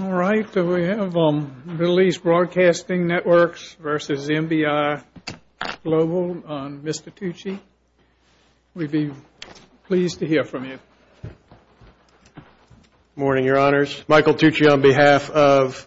All right, we have Middle East Broadcasting Networks v. MBI Global on Mr. Tucci. We'd be pleased to hear from you. Good morning, Your Honors. Michael Tucci on behalf of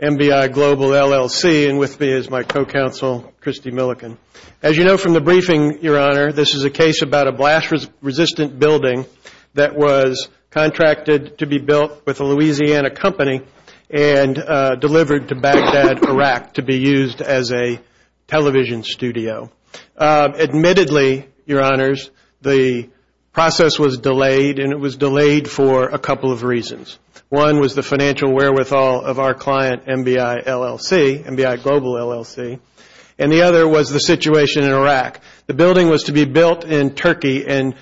MBI Global, LLC, and with me is my co-counsel, Christy Millican. As you know from the briefing, Your Honor, this is a case about a blast-resistant building that was contracted to be built with a Louisiana company and delivered to Baghdad, Iraq, to be used as a television studio. Admittedly, Your Honors, the process was delayed, and it was delayed for a couple of reasons. One was the financial wherewithal of our client, MBI, LLC, MBI Global, LLC, and the other was the situation in Iraq. The building was to be built in Turkey and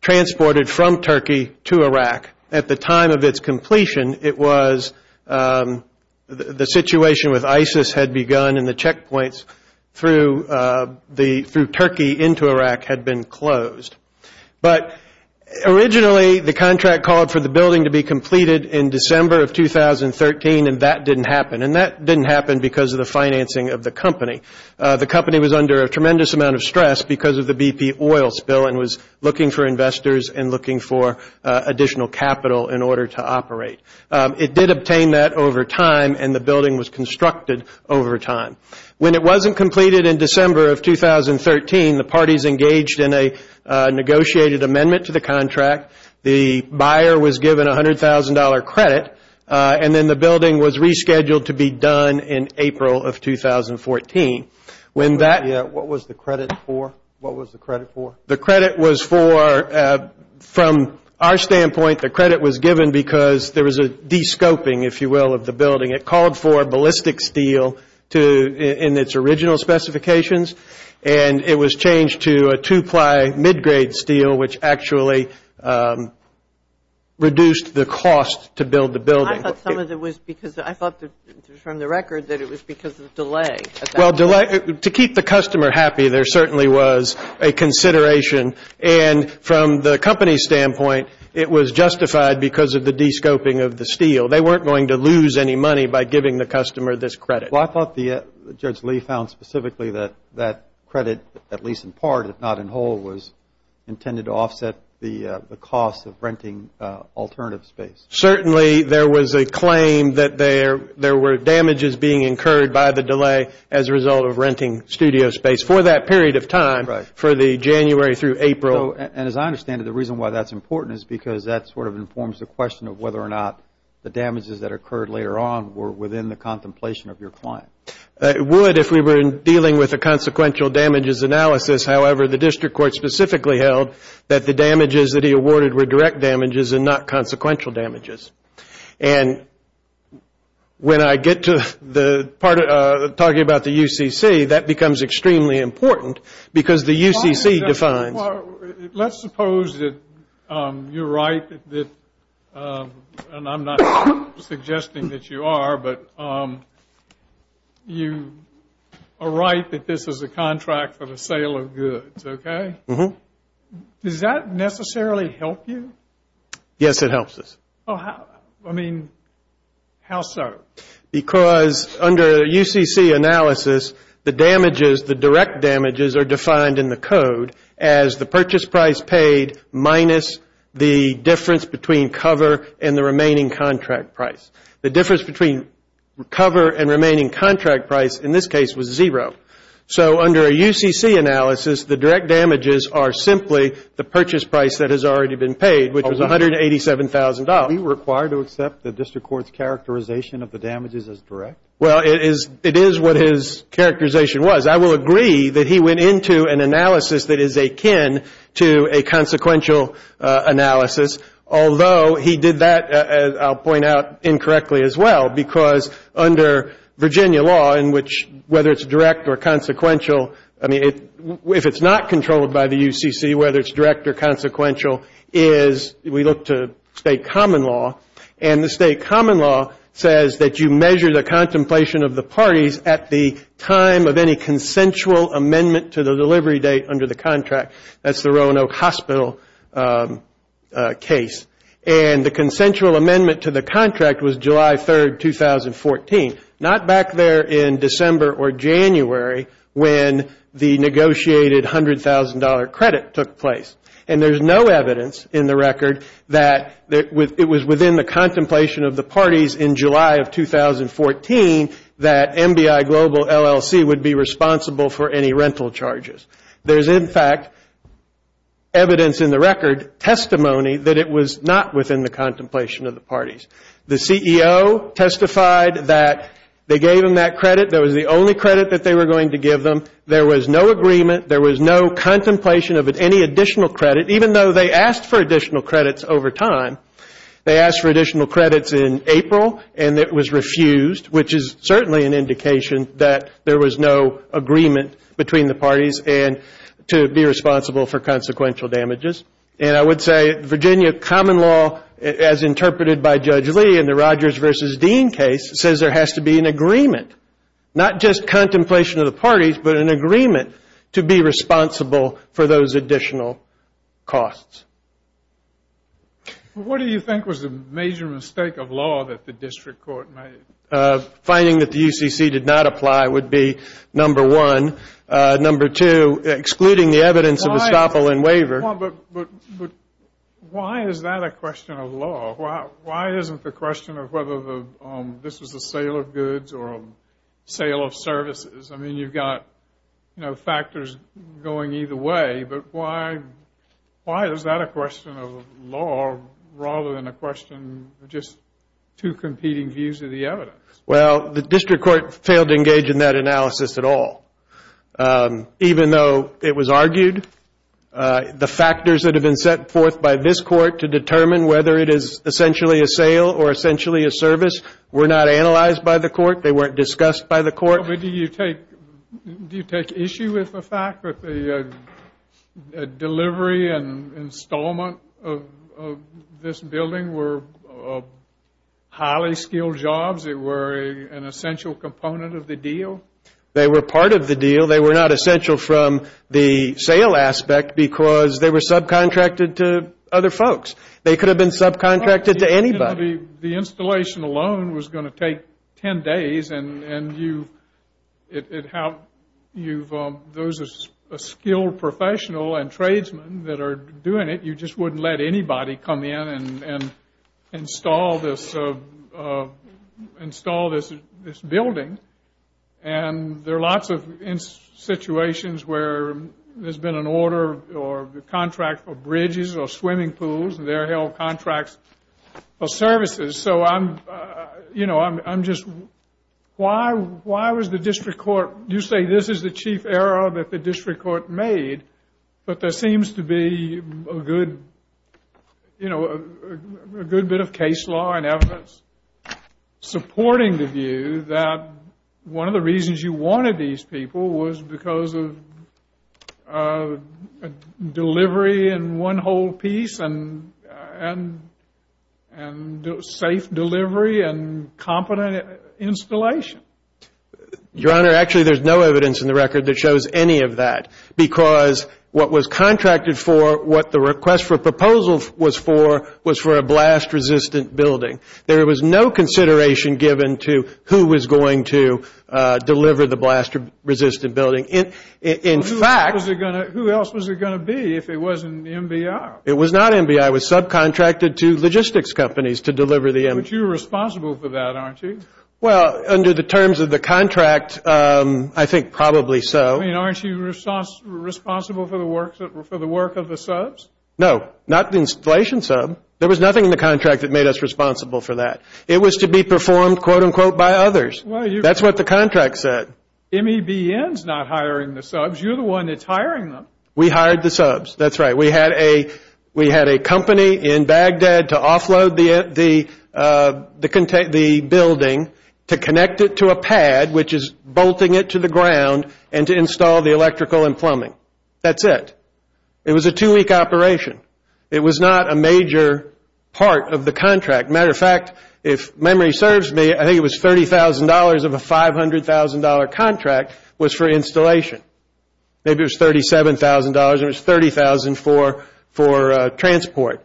transported from Turkey to Iraq. At the time of its completion, it was, the situation with ISIS had begun and the checkpoints through Turkey into Iraq had been closed. But originally, the contract called for the building to be completed in December of 2013, and that didn't happen, and that didn't happen because of the financing of the company. The company was under a tremendous amount of stress because of the BP oil spill and was looking for investors and looking for additional capital in order to operate. It did obtain that over time, and the building was constructed over time. When it wasn't completed in December of 2013, the parties engaged in a negotiated amendment to the contract. The buyer was given $100,000 credit, and then the building was rescheduled to be done in April of 2014. What was the credit for? The credit was for, from our standpoint, the credit was given because there was a de-scoping, if you will, of the building. It called for ballistic steel in its original specifications, and it was changed to a two-ply mid-grade steel, which actually reduced the cost to build the building. I thought some of it was because, I thought from the record that it was because of delay. Well, to keep the customer happy, there certainly was a consideration, and from the company's standpoint, it was justified because of the de-scoping of the steel. They weren't going to lose any money by giving the customer this credit. Well, I thought Judge Lee found specifically that that credit, at least in part, if not in whole, was intended to offset the cost of renting alternative space. Certainly, there was a claim that there were damages being incurred by the delay as a result of renting studio space for that period of time, for the January through April. And as I understand it, the reason why that's important is because that sort of informs the question of whether or not the damages that occurred later on were within the contemplation of your client. It would if we were dealing with a consequential damages analysis. However, the district court specifically held that the damages that he awarded were direct damages and not consequential damages. And when I get to talking about the UCC, that becomes extremely important because the UCC defines. Well, let's suppose that you're right, and I'm not suggesting that you are, but you are right that this is a contract for the sale of goods, okay? Does that necessarily help you? Yes, it helps us. I mean, how so? Because under a UCC analysis, the damages, the direct damages are defined in the code as the purchase price paid minus the difference between cover and the remaining contract price. The difference between cover and remaining contract price in this case was zero. So under a UCC analysis, the direct damages are simply the purchase price that has already been paid, which is $187,000. Are we required to accept the district court's characterization of the damages as direct? Well, it is what his characterization was. I will agree that he went into an analysis that is akin to a consequential analysis, although he did that, I'll point out, incorrectly as well because under Virginia law, in which whether it's direct or consequential, I mean, if it's not controlled by the UCC, whether it's direct or consequential, we look to state common law, and the state common law says that you measure the contemplation of the parties at the time of any consensual amendment to the delivery date under the contract. That's the Roanoke Hospital case. And the consensual amendment to the contract was July 3, 2014, not back there in December or January when the negotiated $100,000 credit took place. And there's no evidence in the record that it was within the contemplation of the parties in July of 2014 that MBI Global LLC would be responsible for any rental charges. There's, in fact, evidence in the record, testimony, that it was not within the contemplation of the parties. The CEO testified that they gave them that credit. That was the only credit that they were going to give them. There was no agreement. There was no contemplation of any additional credit, even though they asked for additional credits over time. They asked for additional credits in April, and it was refused, which is certainly an indication that there was no agreement between the parties to be responsible for consequential damages. And I would say Virginia common law, as interpreted by Judge Lee in the Rogers versus Dean case, says there has to be an agreement, not just contemplation of the parties, but an agreement to be responsible for those additional costs. What do you think was the major mistake of law that the district court made? Finding that the UCC did not apply would be number one. Number two, excluding the evidence of estoppel and waiver. But why is that a question of law? Why isn't the question of whether this was a sale of goods or a sale of services? I mean, you've got, you know, factors going either way, but why is that a question of law rather than a question of just two competing views of the evidence? Well, the district court failed to engage in that analysis at all. Even though it was argued, the factors that have been set forth by this court to determine whether it is essentially a sale or essentially a service were not analyzed by the court. They weren't discussed by the court. Do you take issue with the fact that the delivery and installment of this building were highly skilled jobs? They were an essential component of the deal? They were part of the deal. They were not essential from the sale aspect because they were subcontracted to other folks. They could have been subcontracted to anybody. The installation alone was going to take 10 days, and those are skilled professionals and tradesmen that are doing it. You just wouldn't let anybody come in and install this building. And there are lots of situations where there's been an order or contract for bridges or swimming pools, and there are held contracts for services. So, you know, I'm just, why was the district court, you say this is the chief error that the district court made, but there seems to be a good, you know, a good bit of case law and evidence supporting the view that one of the reasons you wanted these people was because of delivery in one whole piece and safe delivery and competent installation? Your Honor, actually there's no evidence in the record that shows any of that because what was contracted for, what the request for proposal was for, was for a blast-resistant building. There was no consideration given to who was going to deliver the blast-resistant building. In fact, Who else was it going to be if it wasn't MBI? It was not MBI. It was subcontracted to logistics companies to deliver the MBI. But you were responsible for that, aren't you? Well, under the terms of the contract, I think probably so. I mean, aren't you responsible for the work of the subs? No, not the installation sub. There was nothing in the contract that made us responsible for that. It was to be performed, quote, unquote, by others. That's what the contract said. MEBN is not hiring the subs. You're the one that's hiring them. We hired the subs. That's right. We had a company in Baghdad to offload the building to connect it to a pad, which is bolting it to the ground, and to install the electrical and plumbing. That's it. It was a two-week operation. It was not a major part of the contract. As a matter of fact, if memory serves me, I think it was $30,000 of a $500,000 contract was for installation. Maybe it was $37,000. It was $30,000 for transport.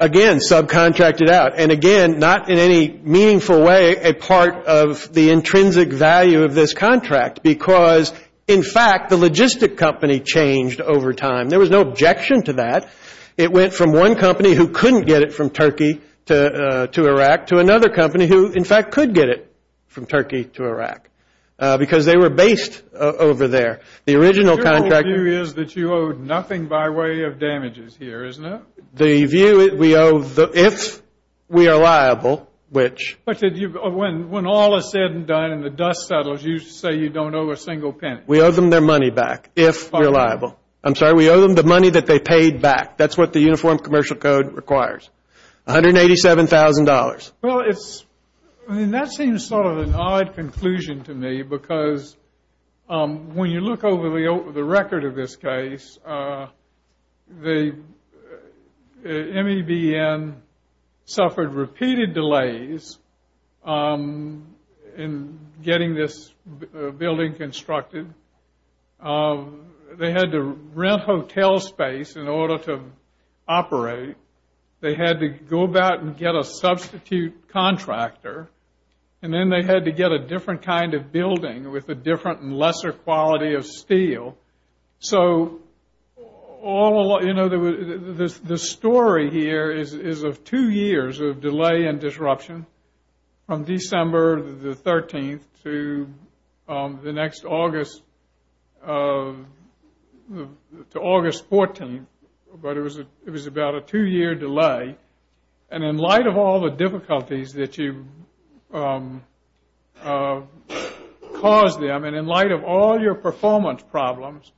Again, subcontracted out. And, again, not in any meaningful way a part of the intrinsic value of this contract because, in fact, the logistic company changed over time. There was no objection to that. It went from one company who couldn't get it from Turkey to Iraq to another company who, in fact, could get it from Turkey to Iraq because they were based over there. The original contract. Your view is that you owe nothing by way of damages here, isn't it? The view is we owe, if we are liable, which. When all is said and done and the dust settles, you say you don't owe a single penny. We owe them their money back if we're liable. I'm sorry. We owe them the money that they paid back. That's what the Uniform Commercial Code requires. $187,000. Well, that seems sort of an odd conclusion to me because when you look over the record of this case, the MEBN suffered repeated delays in getting this building constructed. They had to rent hotel space in order to operate. They had to go about and get a substitute contractor. And then they had to get a different kind of building with a different and lesser quality of steel. So the story here is of two years of delay and disruption from December the 13th to August 14th. But it was about a two-year delay. And in light of all the difficulties that you caused them, and in light of all your performance problems,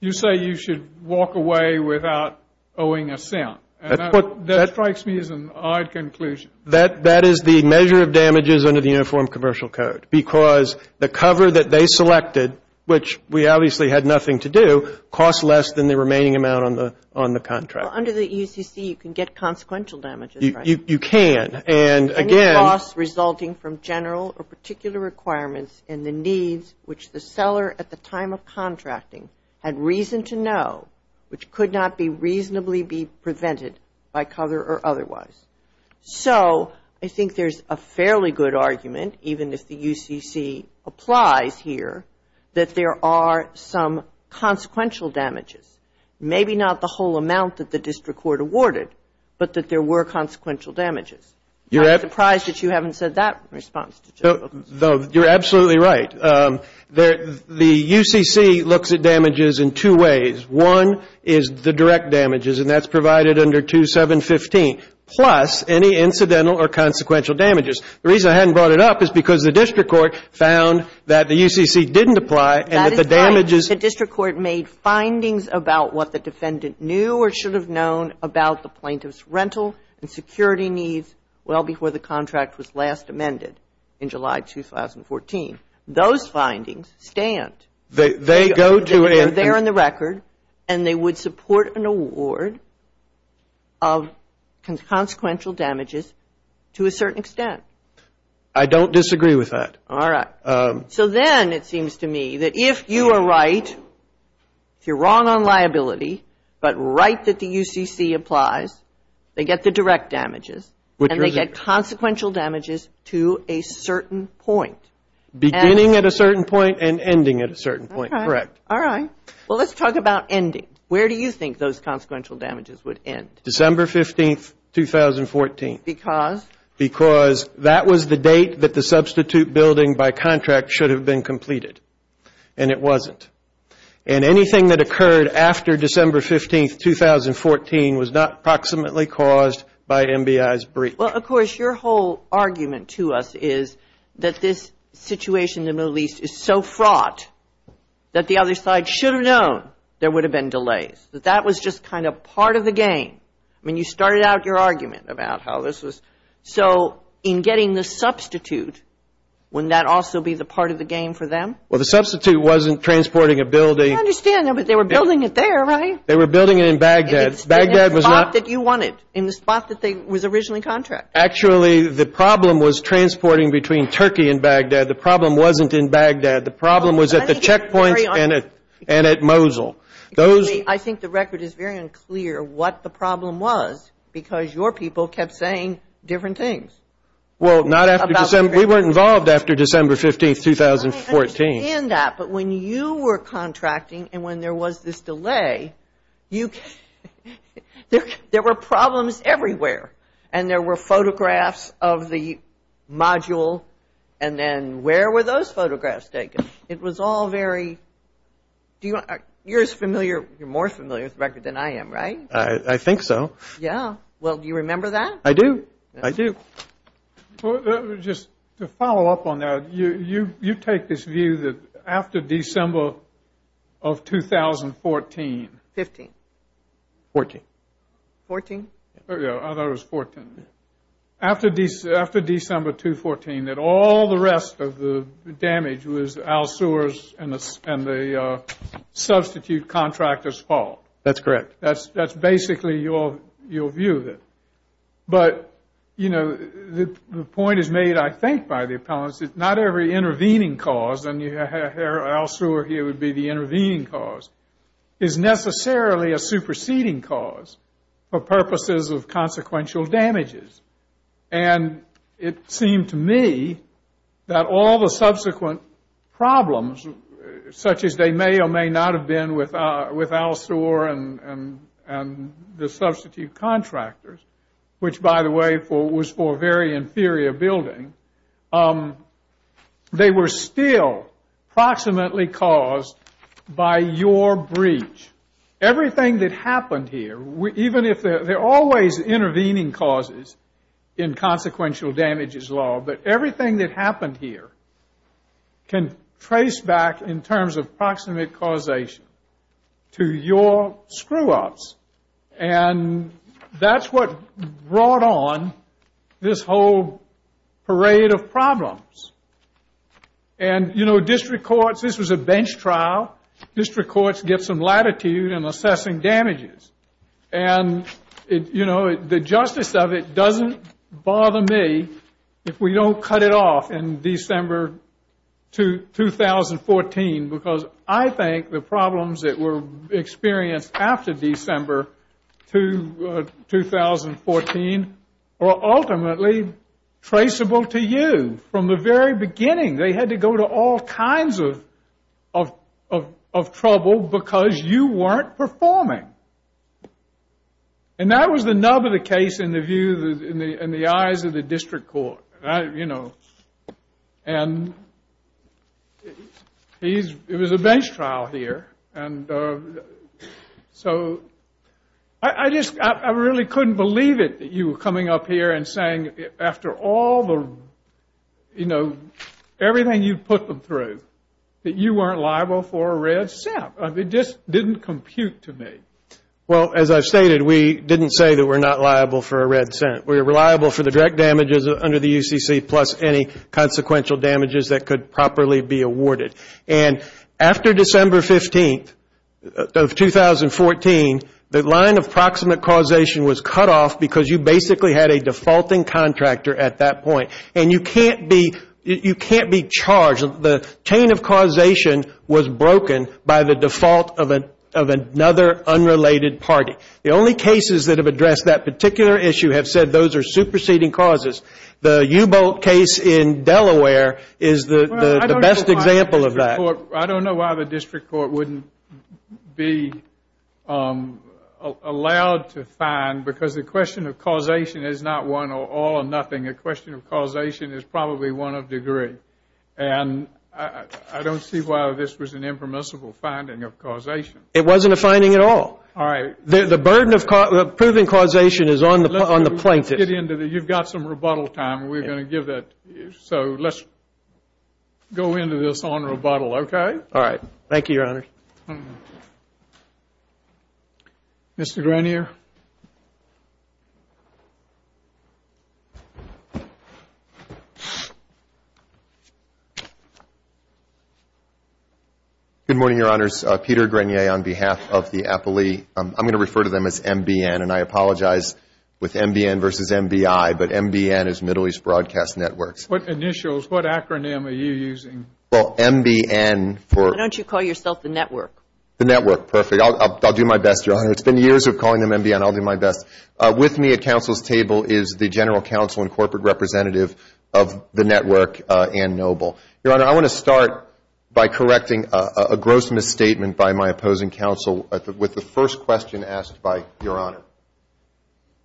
you say you should walk away without owing a cent. That strikes me as an odd conclusion. That is the measure of damages under the Uniform Commercial Code because the cover that they selected, which we obviously had nothing to do, costs less than the remaining amount on the contract. Well, under the UCC, you can get consequential damages, right? You can. And again — Any costs resulting from general or particular requirements and the needs which the seller at the time of contracting had reason to know, which could not be reasonably be prevented by cover or otherwise. So I think there's a fairly good argument, even if the UCC applies here, that there are some consequential damages. Maybe not the whole amount that the district court awarded, but that there were consequential damages. I'm surprised that you haven't said that in response. You're absolutely right. The UCC looks at damages in two ways. One is the direct damages, and that's provided under 2715, plus any incidental or consequential damages. The reason I hadn't brought it up is because the district court found that the UCC didn't apply and that the damages — And they should have known about what the defendant knew or should have known about the plaintiff's rental and security needs well before the contract was last amended in July 2014. Those findings stand. They go to a — They're there in the record, and they would support an award of consequential damages to a certain extent. I don't disagree with that. All right. So then it seems to me that if you are right, if you're wrong on liability, but right that the UCC applies, they get the direct damages, and they get consequential damages to a certain point. Beginning at a certain point and ending at a certain point, correct. All right. Well, let's talk about ending. Where do you think those consequential damages would end? December 15, 2014. Because? Because that was the date that the substitute building by contract should have been completed, and it wasn't. And anything that occurred after December 15, 2014, was not proximately caused by MBI's breach. Well, of course, your whole argument to us is that this situation in the Middle East is so fraught that the other side should have known there would have been delays, that that was just kind of part of the game. I mean, you started out your argument about how this was. So in getting the substitute, wouldn't that also be the part of the game for them? Well, the substitute wasn't transporting a building. I understand that, but they were building it there, right? They were building it in Baghdad. Baghdad was not. In the spot that you wanted, in the spot that was originally contracted. Actually, the problem was transporting between Turkey and Baghdad. The problem wasn't in Baghdad. The problem was at the checkpoints and at Mosul. I think the record is very unclear what the problem was, because your people kept saying different things. Well, not after December. We weren't involved after December 15, 2014. But when you were contracting and when there was this delay, there were problems everywhere, and there were photographs of the module, and then where were those photographs taken? It was all very – you're more familiar with the record than I am, right? I think so. Yeah. Well, do you remember that? I do. I do. Just to follow up on that, you take this view that after December of 2014. 15. 14. 14? Yeah, I thought it was 14. After December 2, 2014, that all the rest of the damage was Al Sear's and the substitute contractor's fault. That's correct. That's basically your view of it. But, you know, the point is made, I think, by the appellants, that not every intervening cause, and Al Sear here would be the intervening cause, is necessarily a superseding cause for purposes of consequential damages. And it seemed to me that all the subsequent problems, such as they may or may not have been with Al Sear and the substitute contractors, which, by the way, was for a very inferior building, they were still proximately caused by your breach. Everything that happened here, even if they're always intervening causes in consequential damages law, but everything that happened here can trace back, in terms of proximate causation, to your screw-ups. And that's what brought on this whole parade of problems. And, you know, district courts, this was a bench trial. District courts get some latitude in assessing damages. And, you know, the justice of it doesn't bother me if we don't cut it off in December 2014 because I think the problems that were experienced after December 2014 were ultimately traceable to you from the very beginning. They had to go to all kinds of trouble because you weren't performing. And that was the nub of the case in the eyes of the district court. And, you know, and it was a bench trial here. And so I just really couldn't believe it, that you were coming up here and saying after all the, you know, everything you put them through, that you weren't liable for a red cent. It just didn't compute to me. Well, as I've stated, we didn't say that we're not liable for a red cent. We were liable for the direct damages under the UCC plus any consequential damages that could properly be awarded. And after December 15th of 2014, the line of proximate causation was cut off because you basically had a defaulting contractor at that point. And you can't be charged. The chain of causation was broken by the default of another unrelated party. The only cases that have addressed that particular issue have said those are superseding causes. The U-bolt case in Delaware is the best example of that. I don't know why the district court wouldn't be allowed to find, because the question of causation is not one or all or nothing. The question of causation is probably one of degree. And I don't see why this was an impermissible finding of causation. It wasn't a finding at all. All right. The burden of proven causation is on the plaintiff. You've got some rebuttal time, and we're going to give that. So let's go into this on rebuttal, okay? All right. Thank you, Your Honor. Mr. Grenier. Good morning, Your Honors. Peter Grenier on behalf of the appellee. I'm going to refer to them as MBN, and I apologize with MBN versus MBI, but MBN is Middle East Broadcast Networks. What initials? What acronym are you using? Well, MBN for. Why don't you call yourself the network? The network. I'll do my best, Your Honor. It's been years of calling them MBN. I'll do my best. With me at counsel's table is the general counsel and corporate representative of the network, Ann Noble. Your Honor, I want to start by correcting a gross misstatement by my opposing counsel with the first question asked by Your Honor.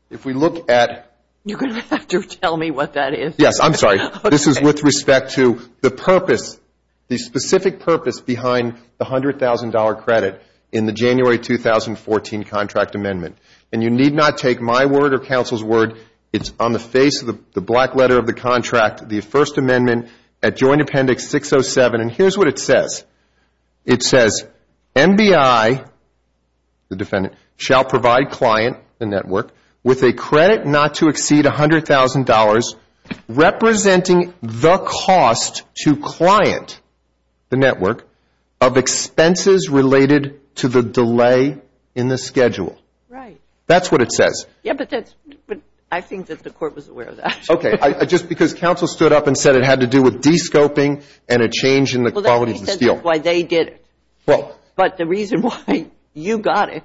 If we look at. You're going to have to tell me what that is. Yes. I'm sorry. This is with respect to the purpose, the specific purpose behind the $100,000 credit in the January 2014 contract with the First Amendment. And you need not take my word or counsel's word. It's on the face of the black letter of the contract, the First Amendment at Joint Appendix 607. And here's what it says. It says, MBI, the defendant, shall provide client, the network, with a credit not to exceed $100,000 representing the cost to client, the network, of expenses related to the delay in the schedule. Right. That's what it says. Yeah, but I think that the court was aware of that. Okay. Just because counsel stood up and said it had to do with de-scoping and a change in the quality of the steel. Well, then he said that's why they did it. But the reason why you got it.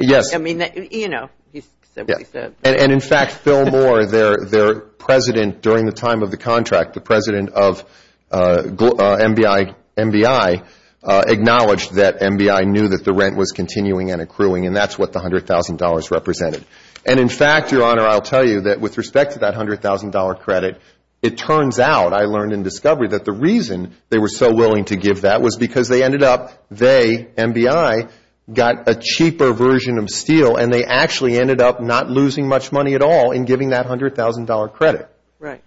Yes. I mean, you know, he said what he said. And, in fact, Phil Moore, their president during the time of the contract, the president of MBI, acknowledged that MBI knew that the rent was continuing and accruing and that's what the $100,000 represented. And, in fact, Your Honor, I'll tell you that with respect to that $100,000 credit, it turns out, I learned in discovery, that the reason they were so willing to give that was because they ended up, they, MBI, got a cheaper version of steel and they actually ended up not losing much money at all in giving that $100,000 credit. Right.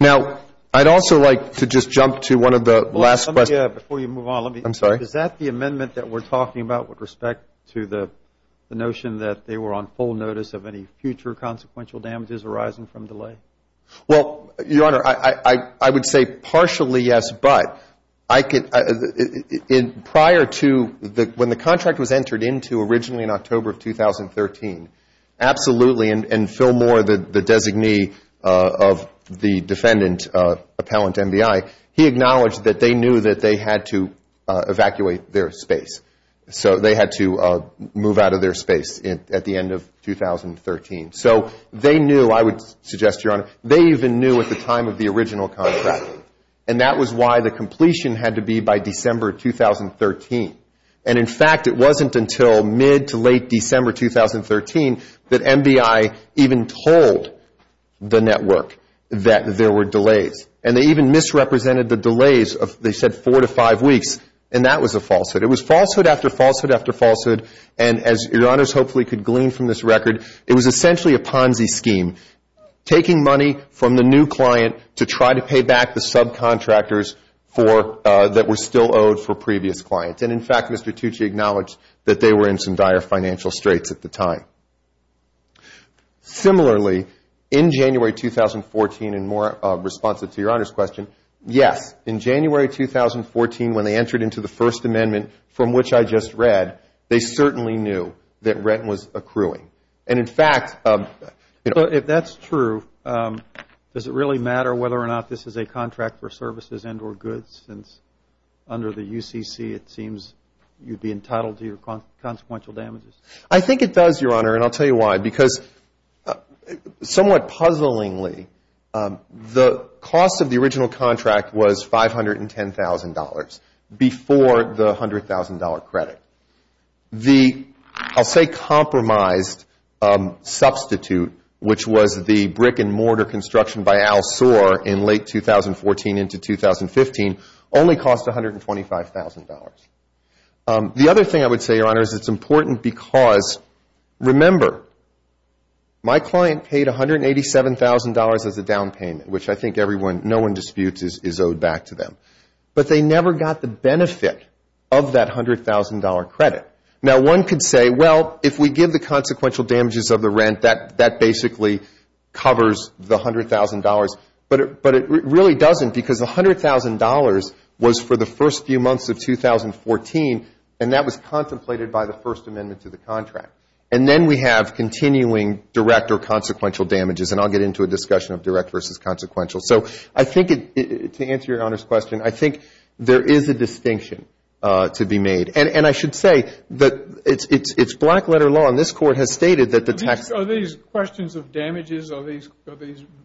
Now, I'd also like to just jump to one of the last questions. Before you move on, let me. I'm sorry. Is that the amendment that we're talking about with respect to the notion that they were on full notice of any future consequential damages arising from delay? Well, Your Honor, I would say partially yes, but I could, prior to, when the contract was entered into originally in October of 2013, absolutely, and Phil Moore, the designee of the defendant, appellant to MBI, he acknowledged that they knew that they had to evacuate their space. So they had to move out of their space at the end of 2013. So they knew, I would suggest, Your Honor, they even knew at the time of the original contract, and that was why the completion had to be by December 2013. And, in fact, it wasn't until mid to late December 2013 that MBI even told the network that there were delays, and they even misrepresented the delays of, they said, four to five weeks, and that was a falsehood. It was falsehood after falsehood after falsehood, and as Your Honors hopefully could glean from this record, it was essentially a Ponzi scheme, taking money from the new client to try to pay back the subcontractors that were still owed for previous clients. And, in fact, Mr. Tucci acknowledged that they were in some dire financial straits at the time. Similarly, in January 2014, and more responsive to Your Honor's question, yes, in January 2014, when they entered into the First Amendment, from which I just read, they certainly knew that rent was accruing. So if that's true, does it really matter whether or not this is a contract for services and or goods, since under the UCC it seems you'd be entitled to your consequential damages? I think it does, Your Honor, and I'll tell you why. Because somewhat puzzlingly, the cost of the original contract was $510,000 before the $100,000 credit. The, I'll say, compromised substitute, which was the brick and mortar construction by Al Soar in late 2014 into 2015, only cost $125,000. The other thing I would say, Your Honor, is it's important because, remember, my client paid $187,000 as a down payment, which I think no one disputes is owed back to them. But they never got the benefit of that $100,000 credit. Now, one could say, well, if we give the consequential damages of the rent, that basically covers the $100,000. But it really doesn't, because the $100,000 was for the first few months of 2014, and that was contemplated by the First Amendment to the contract. And then we have continuing direct or consequential damages, and I'll get into a discussion of direct versus consequential. So I think, to answer Your Honor's question, I think there is a distinction to be made. And I should say that it's black-letter law, and this Court has stated that the tax ---- Are these questions of damages? Are these,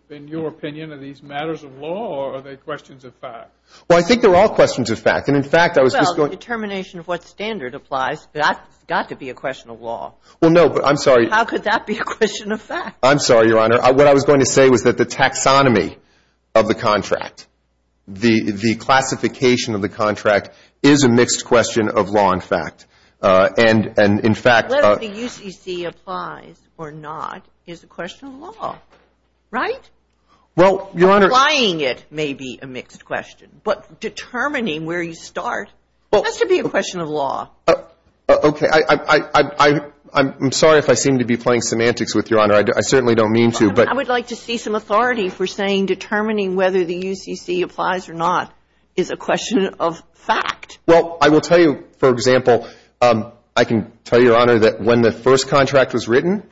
in your opinion, are these matters of law, or are they questions of fact? Well, I think they're all questions of fact. And, in fact, I was just going to ---- Well, the determination of what standard applies has got to be a question of law. Well, no, but I'm sorry. How could that be a question of fact? I'm sorry, Your Honor. What I was going to say was that the taxonomy of the contract, the classification of the contract, is a mixed question of law and fact. And, in fact ---- Whether the UCC applies or not is a question of law, right? Well, Your Honor ---- Applying it may be a mixed question, but determining where you start has to be a question of law. Okay. I'm sorry if I seem to be playing semantics with you, Your Honor. I certainly don't mean to, but ---- I would like to see some authority for saying determining whether the UCC applies or not is a question of fact. Well, I will tell you, for example, I can tell you, Your Honor, that when the first contract was written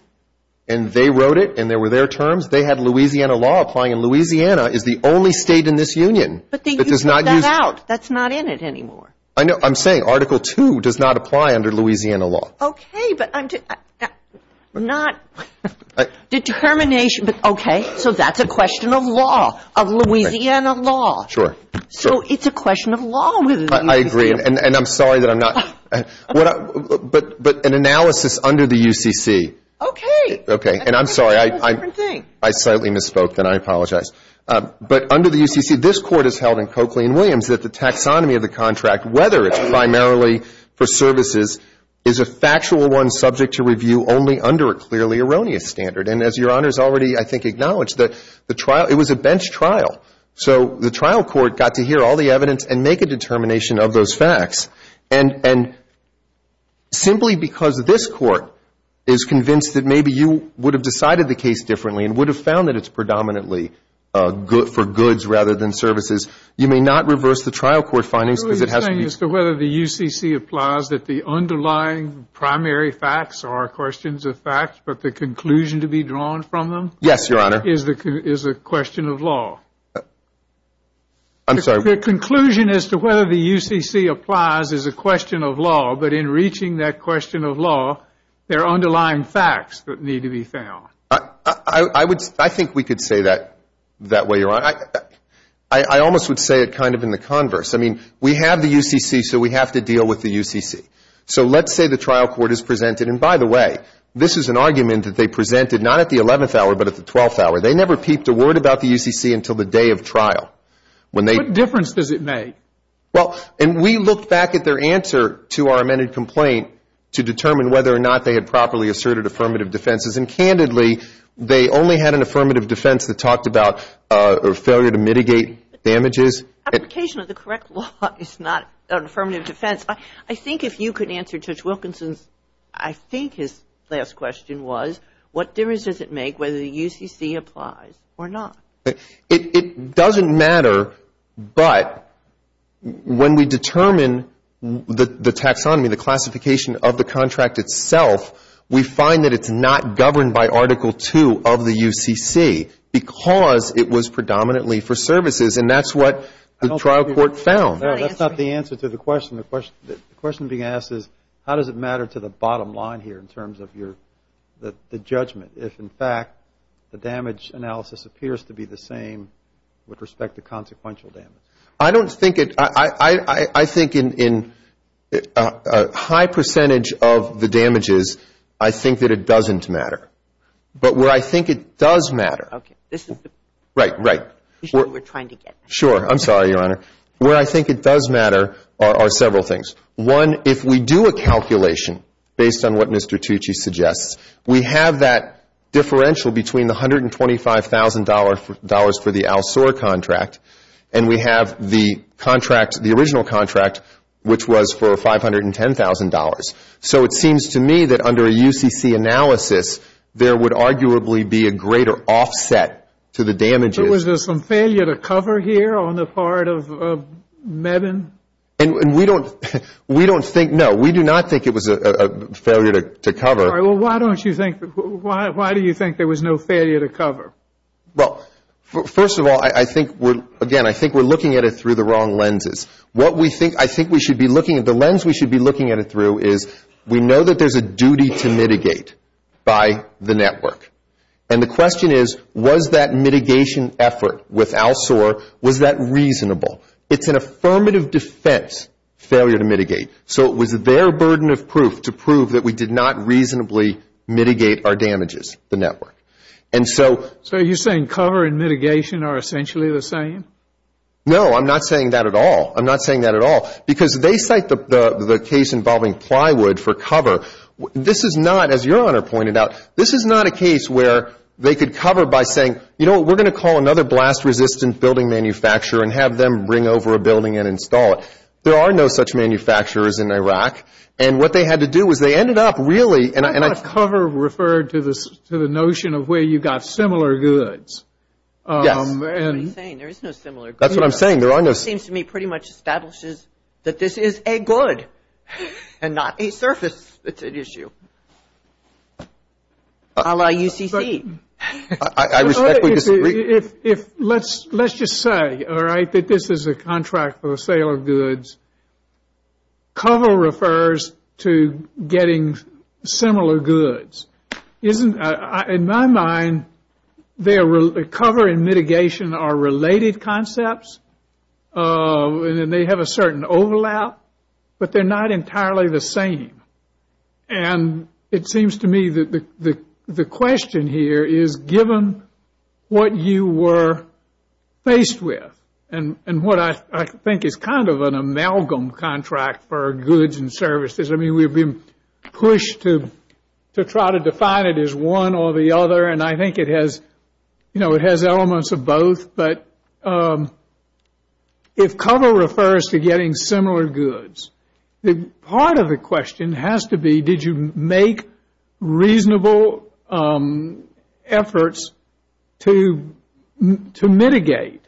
and they wrote it and there were their terms, they had Louisiana law applying, and Louisiana is the only State in this union that does not use ---- But you threw that out. That's not in it anymore. I know. I'm saying Article II does not apply under Louisiana law. Okay. But I'm not ---- Determination. Okay. So that's a question of law, of Louisiana law. Sure. So it's a question of law. I agree. And I'm sorry that I'm not ---- But an analysis under the UCC. Okay. Okay. And I'm sorry. I slightly misspoke, and I apologize. But under the UCC, this Court has held in Coakley and Williams that the taxonomy of the contract, whether it's primarily for services, is a factual one subject to review only under a clearly erroneous standard. And as Your Honor has already, I think, acknowledged, the trial ---- it was a bench trial. So the trial court got to hear all the evidence and make a determination of those facts. And simply because this Court is convinced that maybe you would have decided the case differently and would have found that it's predominantly for goods rather than services, you may not reverse the trial court findings because it has to be ---- The underlying primary facts are questions of facts, but the conclusion to be drawn from them ---- Yes, Your Honor. ---- is a question of law. I'm sorry. The conclusion as to whether the UCC applies is a question of law. But in reaching that question of law, there are underlying facts that need to be found. I think we could say that that way, Your Honor. I almost would say it kind of in the converse. I mean, we have the UCC, so we have to deal with the UCC. So let's say the trial court is presented, and by the way, this is an argument that they presented not at the 11th hour but at the 12th hour. They never peeped a word about the UCC until the day of trial. What difference does it make? Well, and we looked back at their answer to our amended complaint to determine whether or not they had properly asserted affirmative defenses. And candidly, they only had an affirmative defense that talked about a failure to mitigate damages. Application of the correct law is not an affirmative defense. I think if you could answer Judge Wilkinson's, I think his last question was, what difference does it make whether the UCC applies or not? It doesn't matter. But when we determine the taxonomy, the classification of the contract itself, we find that it's not governed by Article II of the UCC because it was predominantly for services. And that's what the trial court found. That's not the answer to the question. The question being asked is how does it matter to the bottom line here in terms of the judgment if, in fact, the damage analysis appears to be the same with respect to consequential damage? I don't think it – I think in a high percentage of the damages, I think that it doesn't matter. But where I think it does matter. Okay. Right, right. We're trying to get there. Sure. I'm sorry, Your Honor. Where I think it does matter are several things. One, if we do a calculation based on what Mr. Tucci suggests, we have that differential between the $125,000 for the Al-Sor contract and we have the contract, the original contract, which was for $510,000. So it seems to me that under a UCC analysis, there would arguably be a greater offset to the damages. Was there some failure to cover here on the part of Mebane? And we don't think – no, we do not think it was a failure to cover. All right. Well, why don't you think – why do you think there was no failure to cover? Well, first of all, I think we're – again, I think we're looking at it through the wrong lenses. What we think – I think we should be looking – the lens we should be looking at it through is we know that there's a duty to mitigate by the network. And the question is, was that mitigation effort with Al-Sor, was that reasonable? It's an affirmative defense, failure to mitigate. So it was their burden of proof to prove that we did not reasonably mitigate our damages, the network. And so – So are you saying cover and mitigation are essentially the same? No, I'm not saying that at all. I'm not saying that at all because they cite the case involving Plywood for cover. This is not, as Your Honor pointed out, this is not a case where they could cover by saying, you know what, we're going to call another blast-resistant building manufacturer and have them bring over a building and install it. There are no such manufacturers in Iraq. And what they had to do was they ended up really – I thought cover referred to the notion of where you've got similar goods. Yes. What are you saying? There is no similar goods. That's what I'm saying. Your Honor. It seems to me pretty much establishes that this is a good and not a surface issue. A la UCC. I respectfully disagree. Let's just say, all right, that this is a contract for the sale of goods. Cover refers to getting similar goods. In my mind, the cover and mitigation are related concepts, and they have a certain overlap, but they're not entirely the same. And it seems to me that the question here is given what you were faced with and what I think is kind of an amalgam contract for goods and services. I mean, we've been pushed to try to define it as one or the other, and I think it has elements of both. But if cover refers to getting similar goods, part of the question has to be, did you make reasonable efforts to mitigate?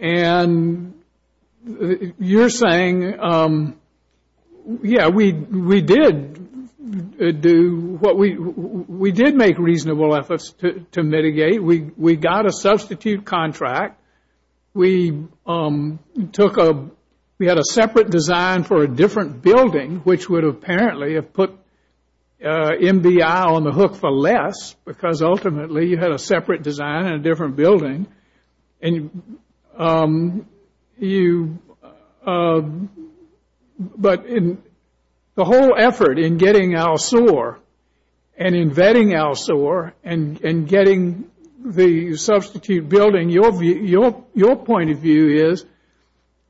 And you're saying, yeah, we did make reasonable efforts to mitigate. We got a substitute contract. We had a separate design for a different building, which would apparently have put MBI on the hook for less, because ultimately you had a separate design and a different building. But in the whole effort in getting our SOAR and in vetting our SOAR and getting the substitute building, your point of view is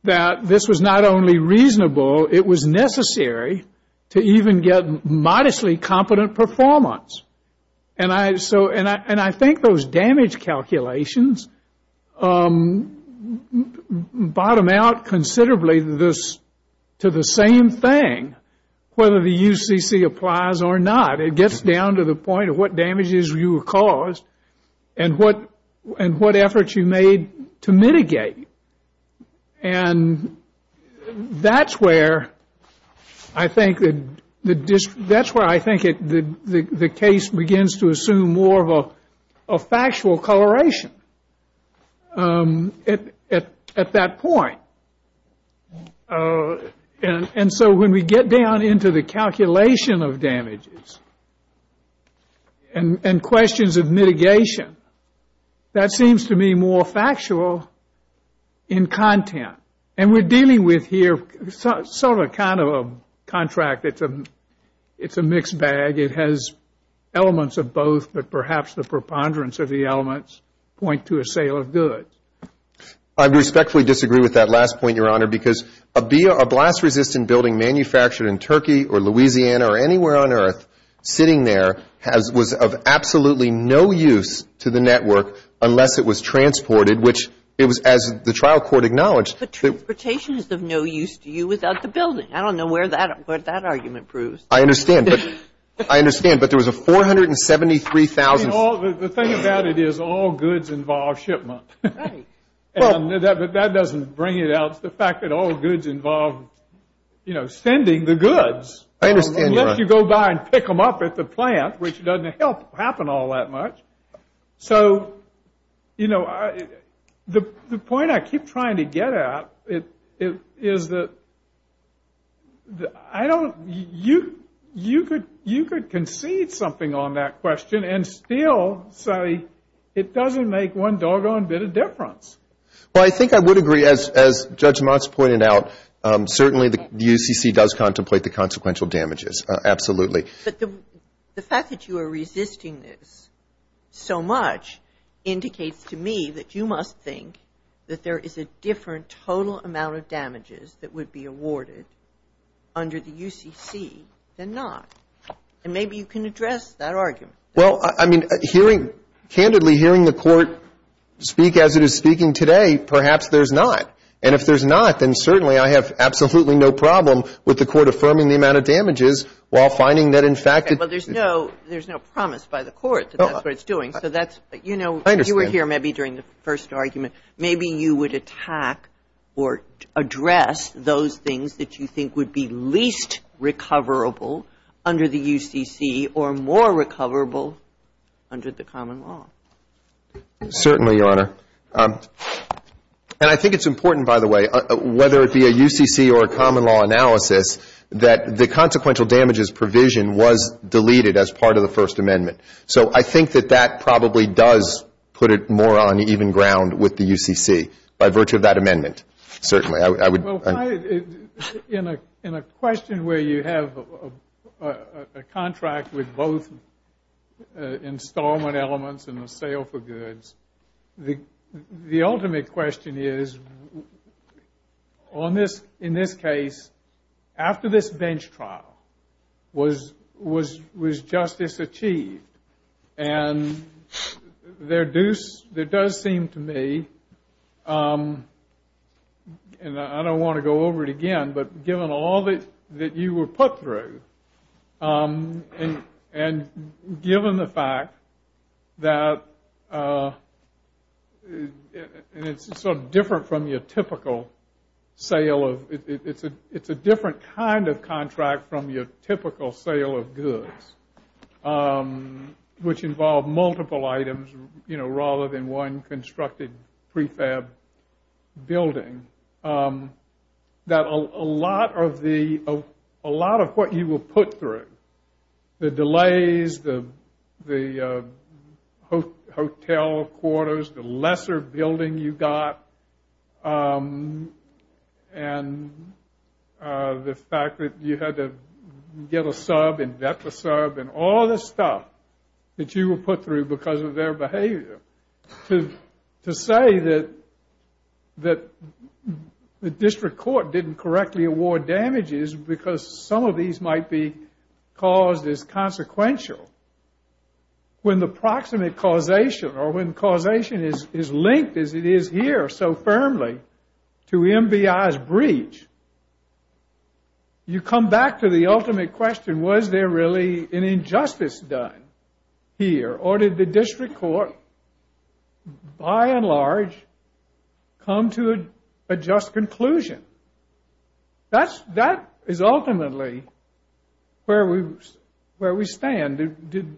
that this was not only reasonable, it was necessary to even get modestly competent performance. And I think those damage calculations bottom out considerably to the same thing, whether the UCC applies or not. It gets down to the point of what damages you caused And that's where I think the case begins to assume more of a factual coloration at that point. And so when we get down into the calculation of damages and questions of mitigation, that seems to me more factual in content. And we're dealing with here sort of kind of a contract. It's a mixed bag. It has elements of both, but perhaps the preponderance of the elements point to a sale of goods. I respectfully disagree with that last point, Your Honor, because a blast-resistant building manufactured in Turkey or Louisiana or anywhere on earth sitting there was of absolutely no use to the network unless it was transported, which it was, as the trial court acknowledged. But transportation is of no use to you without the building. I don't know where that argument proves. I understand. I understand. But there was a $473,000. The thing about it is all goods involve shipment. Right. But that doesn't bring it out. The fact that all goods involve, you know, sending the goods. I understand, Your Honor. Unless you go by and pick them up at the plant, which doesn't help happen all that much. So, you know, the point I keep trying to get at is that I don't you could concede something on that question and still say it doesn't make one doggone bit of difference. Well, I think I would agree. As Judge Motz pointed out, certainly the UCC does contemplate the consequential damages. Absolutely. But the fact that you are resisting this so much indicates to me that you must think that there is a different total amount of damages that would be awarded under the UCC than not. And maybe you can address that argument. Well, I mean, hearing, candidly hearing the Court speak as it is speaking today, perhaps there's not. And if there's not, then certainly I have absolutely no problem with the Court affirming the amount of damages while finding that in fact it's. Okay. Well, there's no promise by the Court that that's what it's doing. So that's, you know. I understand. You were here maybe during the first argument. Maybe you would attack or address those things that you think would be least recoverable under the UCC or more recoverable under the common law. Certainly, Your Honor. And I think it's important, by the way, whether it be a UCC or a common law analysis, that the consequential damages provision was deleted as part of the First Amendment. So I think that that probably does put it more on even ground with the UCC by virtue of that amendment, certainly. Well, in a question where you have a contract with both installment elements and the sale for goods, the ultimate question is, in this case, after this bench trial, was justice achieved? And there does seem to me, and I don't want to go over it again, but given all that you were put through, and given the fact that, and it's sort of different from your typical sale of, it's a different kind of contract from your typical sale of goods, which involve multiple items, you know, rather than one constructed prefab building, that a lot of what you were put through, the delays, the hotel quarters, the lesser building you got, and the fact that you had to get a sub and vet the sub, and all this stuff that you were put through because of their behavior, to say that the district court didn't correctly award damages because some of these might be caused as consequential, when the proximate causation, or when causation is linked as it is here so firmly to MBI's breach, you come back to the ultimate question, was there really an injustice done here? Or did the district court, by and large, come to a just conclusion? That is ultimately where we stand.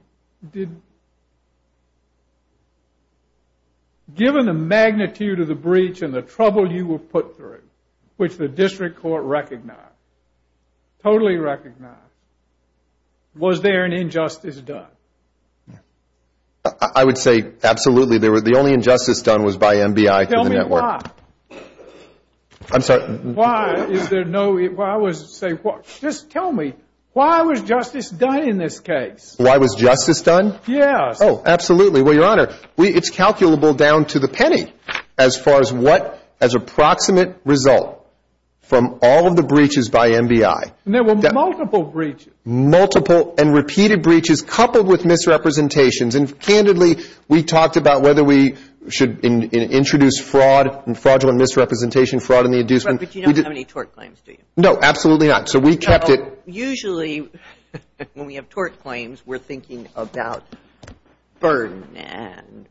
Given the magnitude of the breach and the trouble you were put through, which the district court recognized, totally recognized, was there an injustice done? I would say absolutely. The only injustice done was by MBI through the network. Tell me why. I'm sorry. Just tell me, why was justice done in this case? Why was justice done? Yes. Oh, absolutely. Well, Your Honor, it's calculable down to the penny as far as what, as a proximate result from all of the breaches by MBI. There were multiple breaches. Multiple and repeated breaches coupled with misrepresentations. And, candidly, we talked about whether we should introduce fraud and fraudulent misrepresentation, fraud in the inducement. But you don't have any tort claims, do you? No, absolutely not. So we kept it. Usually, when we have tort claims, we're thinking about burden and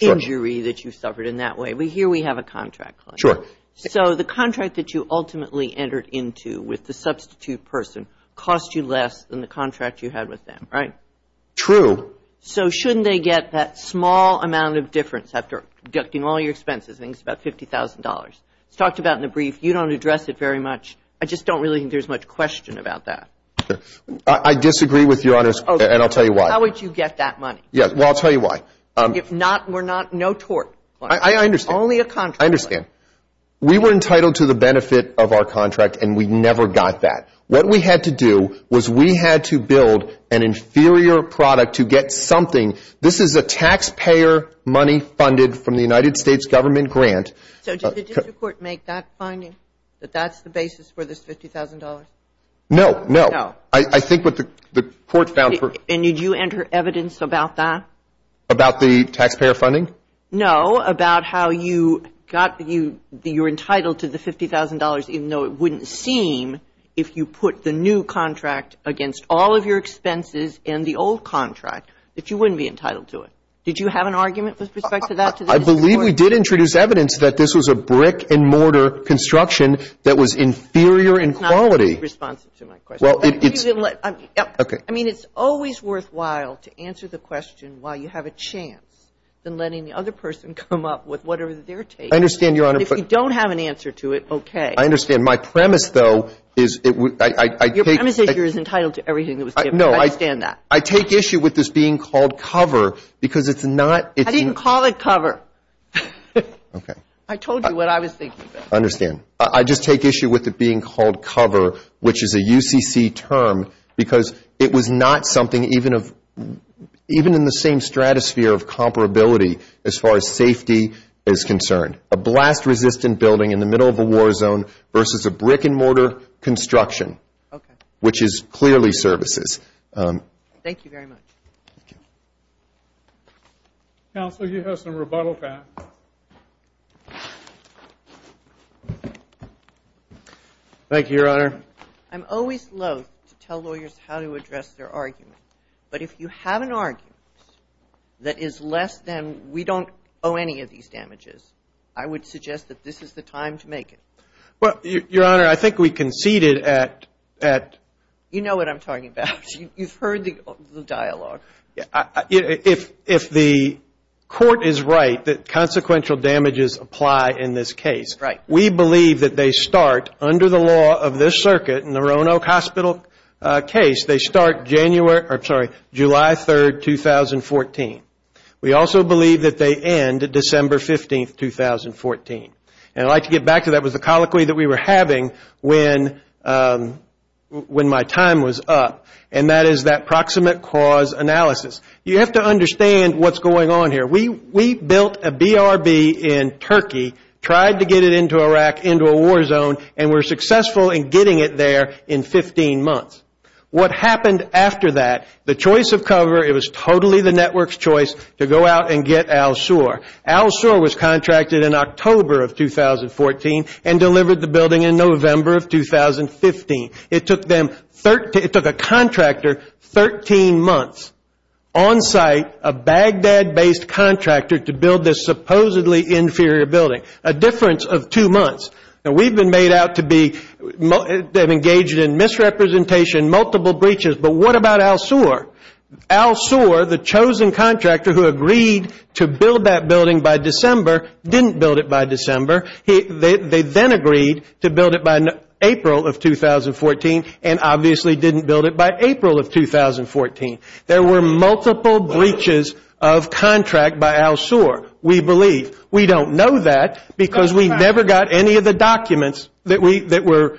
injury that you suffered in that way. But here we have a contract claim. Sure. So the contract that you ultimately entered into with the substitute person cost you less than the contract you had with them, right? True. So shouldn't they get that small amount of difference after deducting all your expenses, I think it's about $50,000. It's talked about in the brief. You don't address it very much. I just don't really think there's much question about that. I disagree with Your Honor's, and I'll tell you why. How would you get that money? Well, I'll tell you why. If not, we're not, no tort. I understand. Only a contract. I understand. We were entitled to the benefit of our contract, and we never got that. What we had to do was we had to build an inferior product to get something. This is a taxpayer money funded from the United States government grant. So did the district court make that finding, that that's the basis for this $50,000? No, no. No. I think what the court found. And did you enter evidence about that? About the taxpayer funding? No, about how you got, you're entitled to the $50,000, even though it wouldn't seem if you put the new contract against all of your expenses and the old contract, that you wouldn't be entitled to it. Did you have an argument with respect to that? I believe we did introduce evidence that this was a brick and mortar construction that was inferior in quality. That's not responsive to my question. Well, it's. I mean, it's always worthwhile to answer the question while you have a chance than letting the other person come up with whatever they're taking. I understand, Your Honor. But if you don't have an answer to it, okay. I understand. And my premise, though, is it would. Your premise is you're entitled to everything that was given. I understand that. I take issue with this being called cover because it's not. I didn't call it cover. Okay. I told you what I was thinking. I understand. I just take issue with it being called cover, which is a UCC term, because it was not something even in the same stratosphere of comparability as far as safety is concerned. A blast-resistant building in the middle of a war zone versus a brick and mortar construction. Okay. Which is clearly services. Thank you very much. Thank you. Counsel, you have some rebuttal time. Thank you, Your Honor. I'm always loath to tell lawyers how to address their argument. But if you have an argument that is less than we don't owe any of these damages, I would suggest that this is the time to make it. Well, Your Honor, I think we conceded at. You know what I'm talking about. You've heard the dialogue. If the court is right that consequential damages apply in this case, we believe that they start under the law of this circuit in the Roanoke Hospital case, they start July 3, 2014. We also believe that they end December 15, 2014. And I'd like to get back to that with the colloquy that we were having when my time was up, and that is that proximate cause analysis. You have to understand what's going on here. We built a BRB in Turkey, tried to get it into Iraq, into a war zone, and were successful in getting it there in 15 months. What happened after that, the choice of cover, it was totally the network's choice to go out and get Al Sur. Al Sur was contracted in October of 2014 and delivered the building in November of 2015. It took a contractor 13 months on site, a Baghdad-based contractor, to build this supposedly inferior building, a difference of two months. Now, we've been made out to be engaged in misrepresentation, multiple breaches, but what about Al Sur? Al Sur, the chosen contractor who agreed to build that building by December, didn't build it by December. They then agreed to build it by April of 2014 and obviously didn't build it by April of 2014. There were multiple breaches of contract by Al Sur, we believe. We don't know that because we never got any of the documents that we were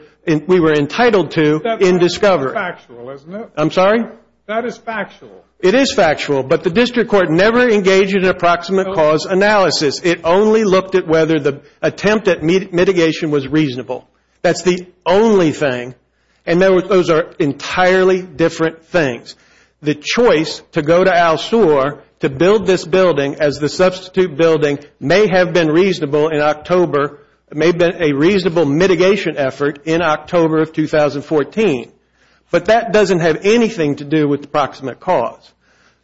entitled to in discovery. That's factual, isn't it? I'm sorry? That is factual. It is factual, but the district court never engaged in an approximate cause analysis. It only looked at whether the attempt at mitigation was reasonable. That's the only thing, and those are entirely different things. The choice to go to Al Sur to build this building as the substitute building may have been reasonable in October, may have been a reasonable mitigation effort in October of 2014, but that doesn't have anything to do with the proximate cause.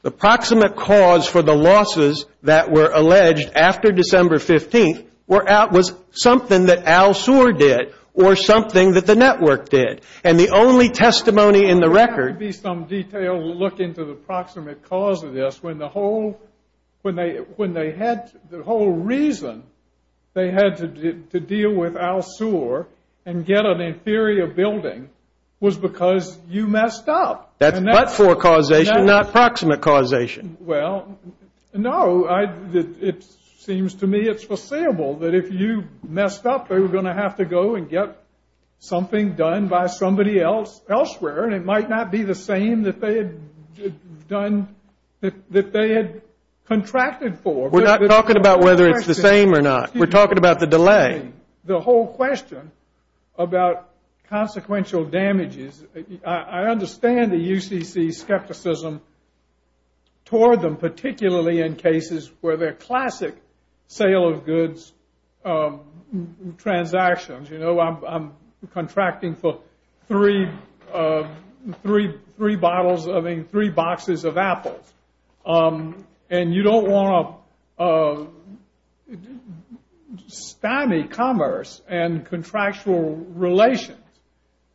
The proximate cause for the losses that were alleged after December 15th was something that Al Sur did or something that the network did, and the only testimony in the record would be some detailed look into the proximate cause of this when the whole reason they had to deal with Al Sur and get an inferior building was because you messed up. That's but-for causation, not proximate causation. Well, no, it seems to me it's foreseeable that if you messed up they were going to have to go and get something done by somebody else elsewhere, and it might not be the same that they had contracted for. We're not talking about whether it's the same or not. We're talking about the delay. The whole question about consequential damages, I understand the UCC skepticism toward them, even though I'm contracting for three boxes of apples, and you don't want to stymie commerce and contractual relations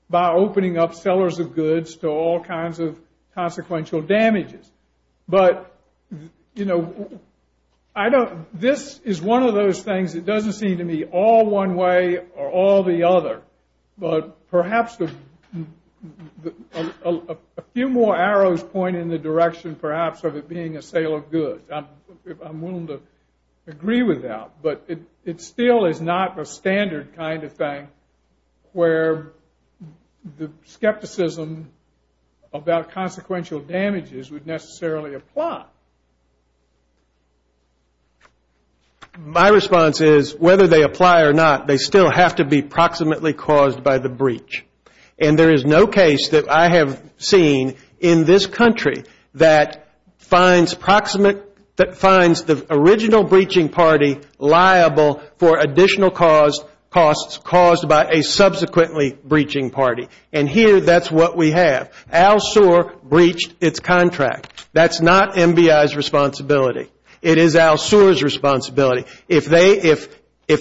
by opening up sellers of goods to all kinds of consequential damages. But, you know, this is one of those things that doesn't seem to me all one way or all the other, but perhaps a few more arrows point in the direction perhaps of it being a sale of goods. I'm willing to agree with that, but it still is not a standard kind of thing where the skepticism about consequential damages would necessarily apply. My response is whether they apply or not, they still have to be proximately caused by the breach, and there is no case that I have seen in this country that finds the original breaching party liable for additional costs caused by a subsequently breaching party. And here that's what we have. Al Suhr breached its contract. That's not MBI's responsibility. It is Al Suhr's responsibility. If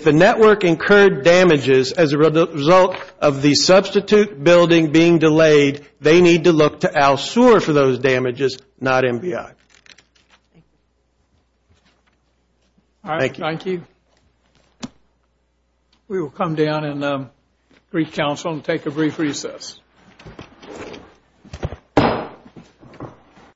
the network incurred damages as a result of the substitute building being delayed, they need to look to Al Suhr for those damages, not MBI. Thank you. All right. Thank you. We will come down in Greek Council and take a brief recess.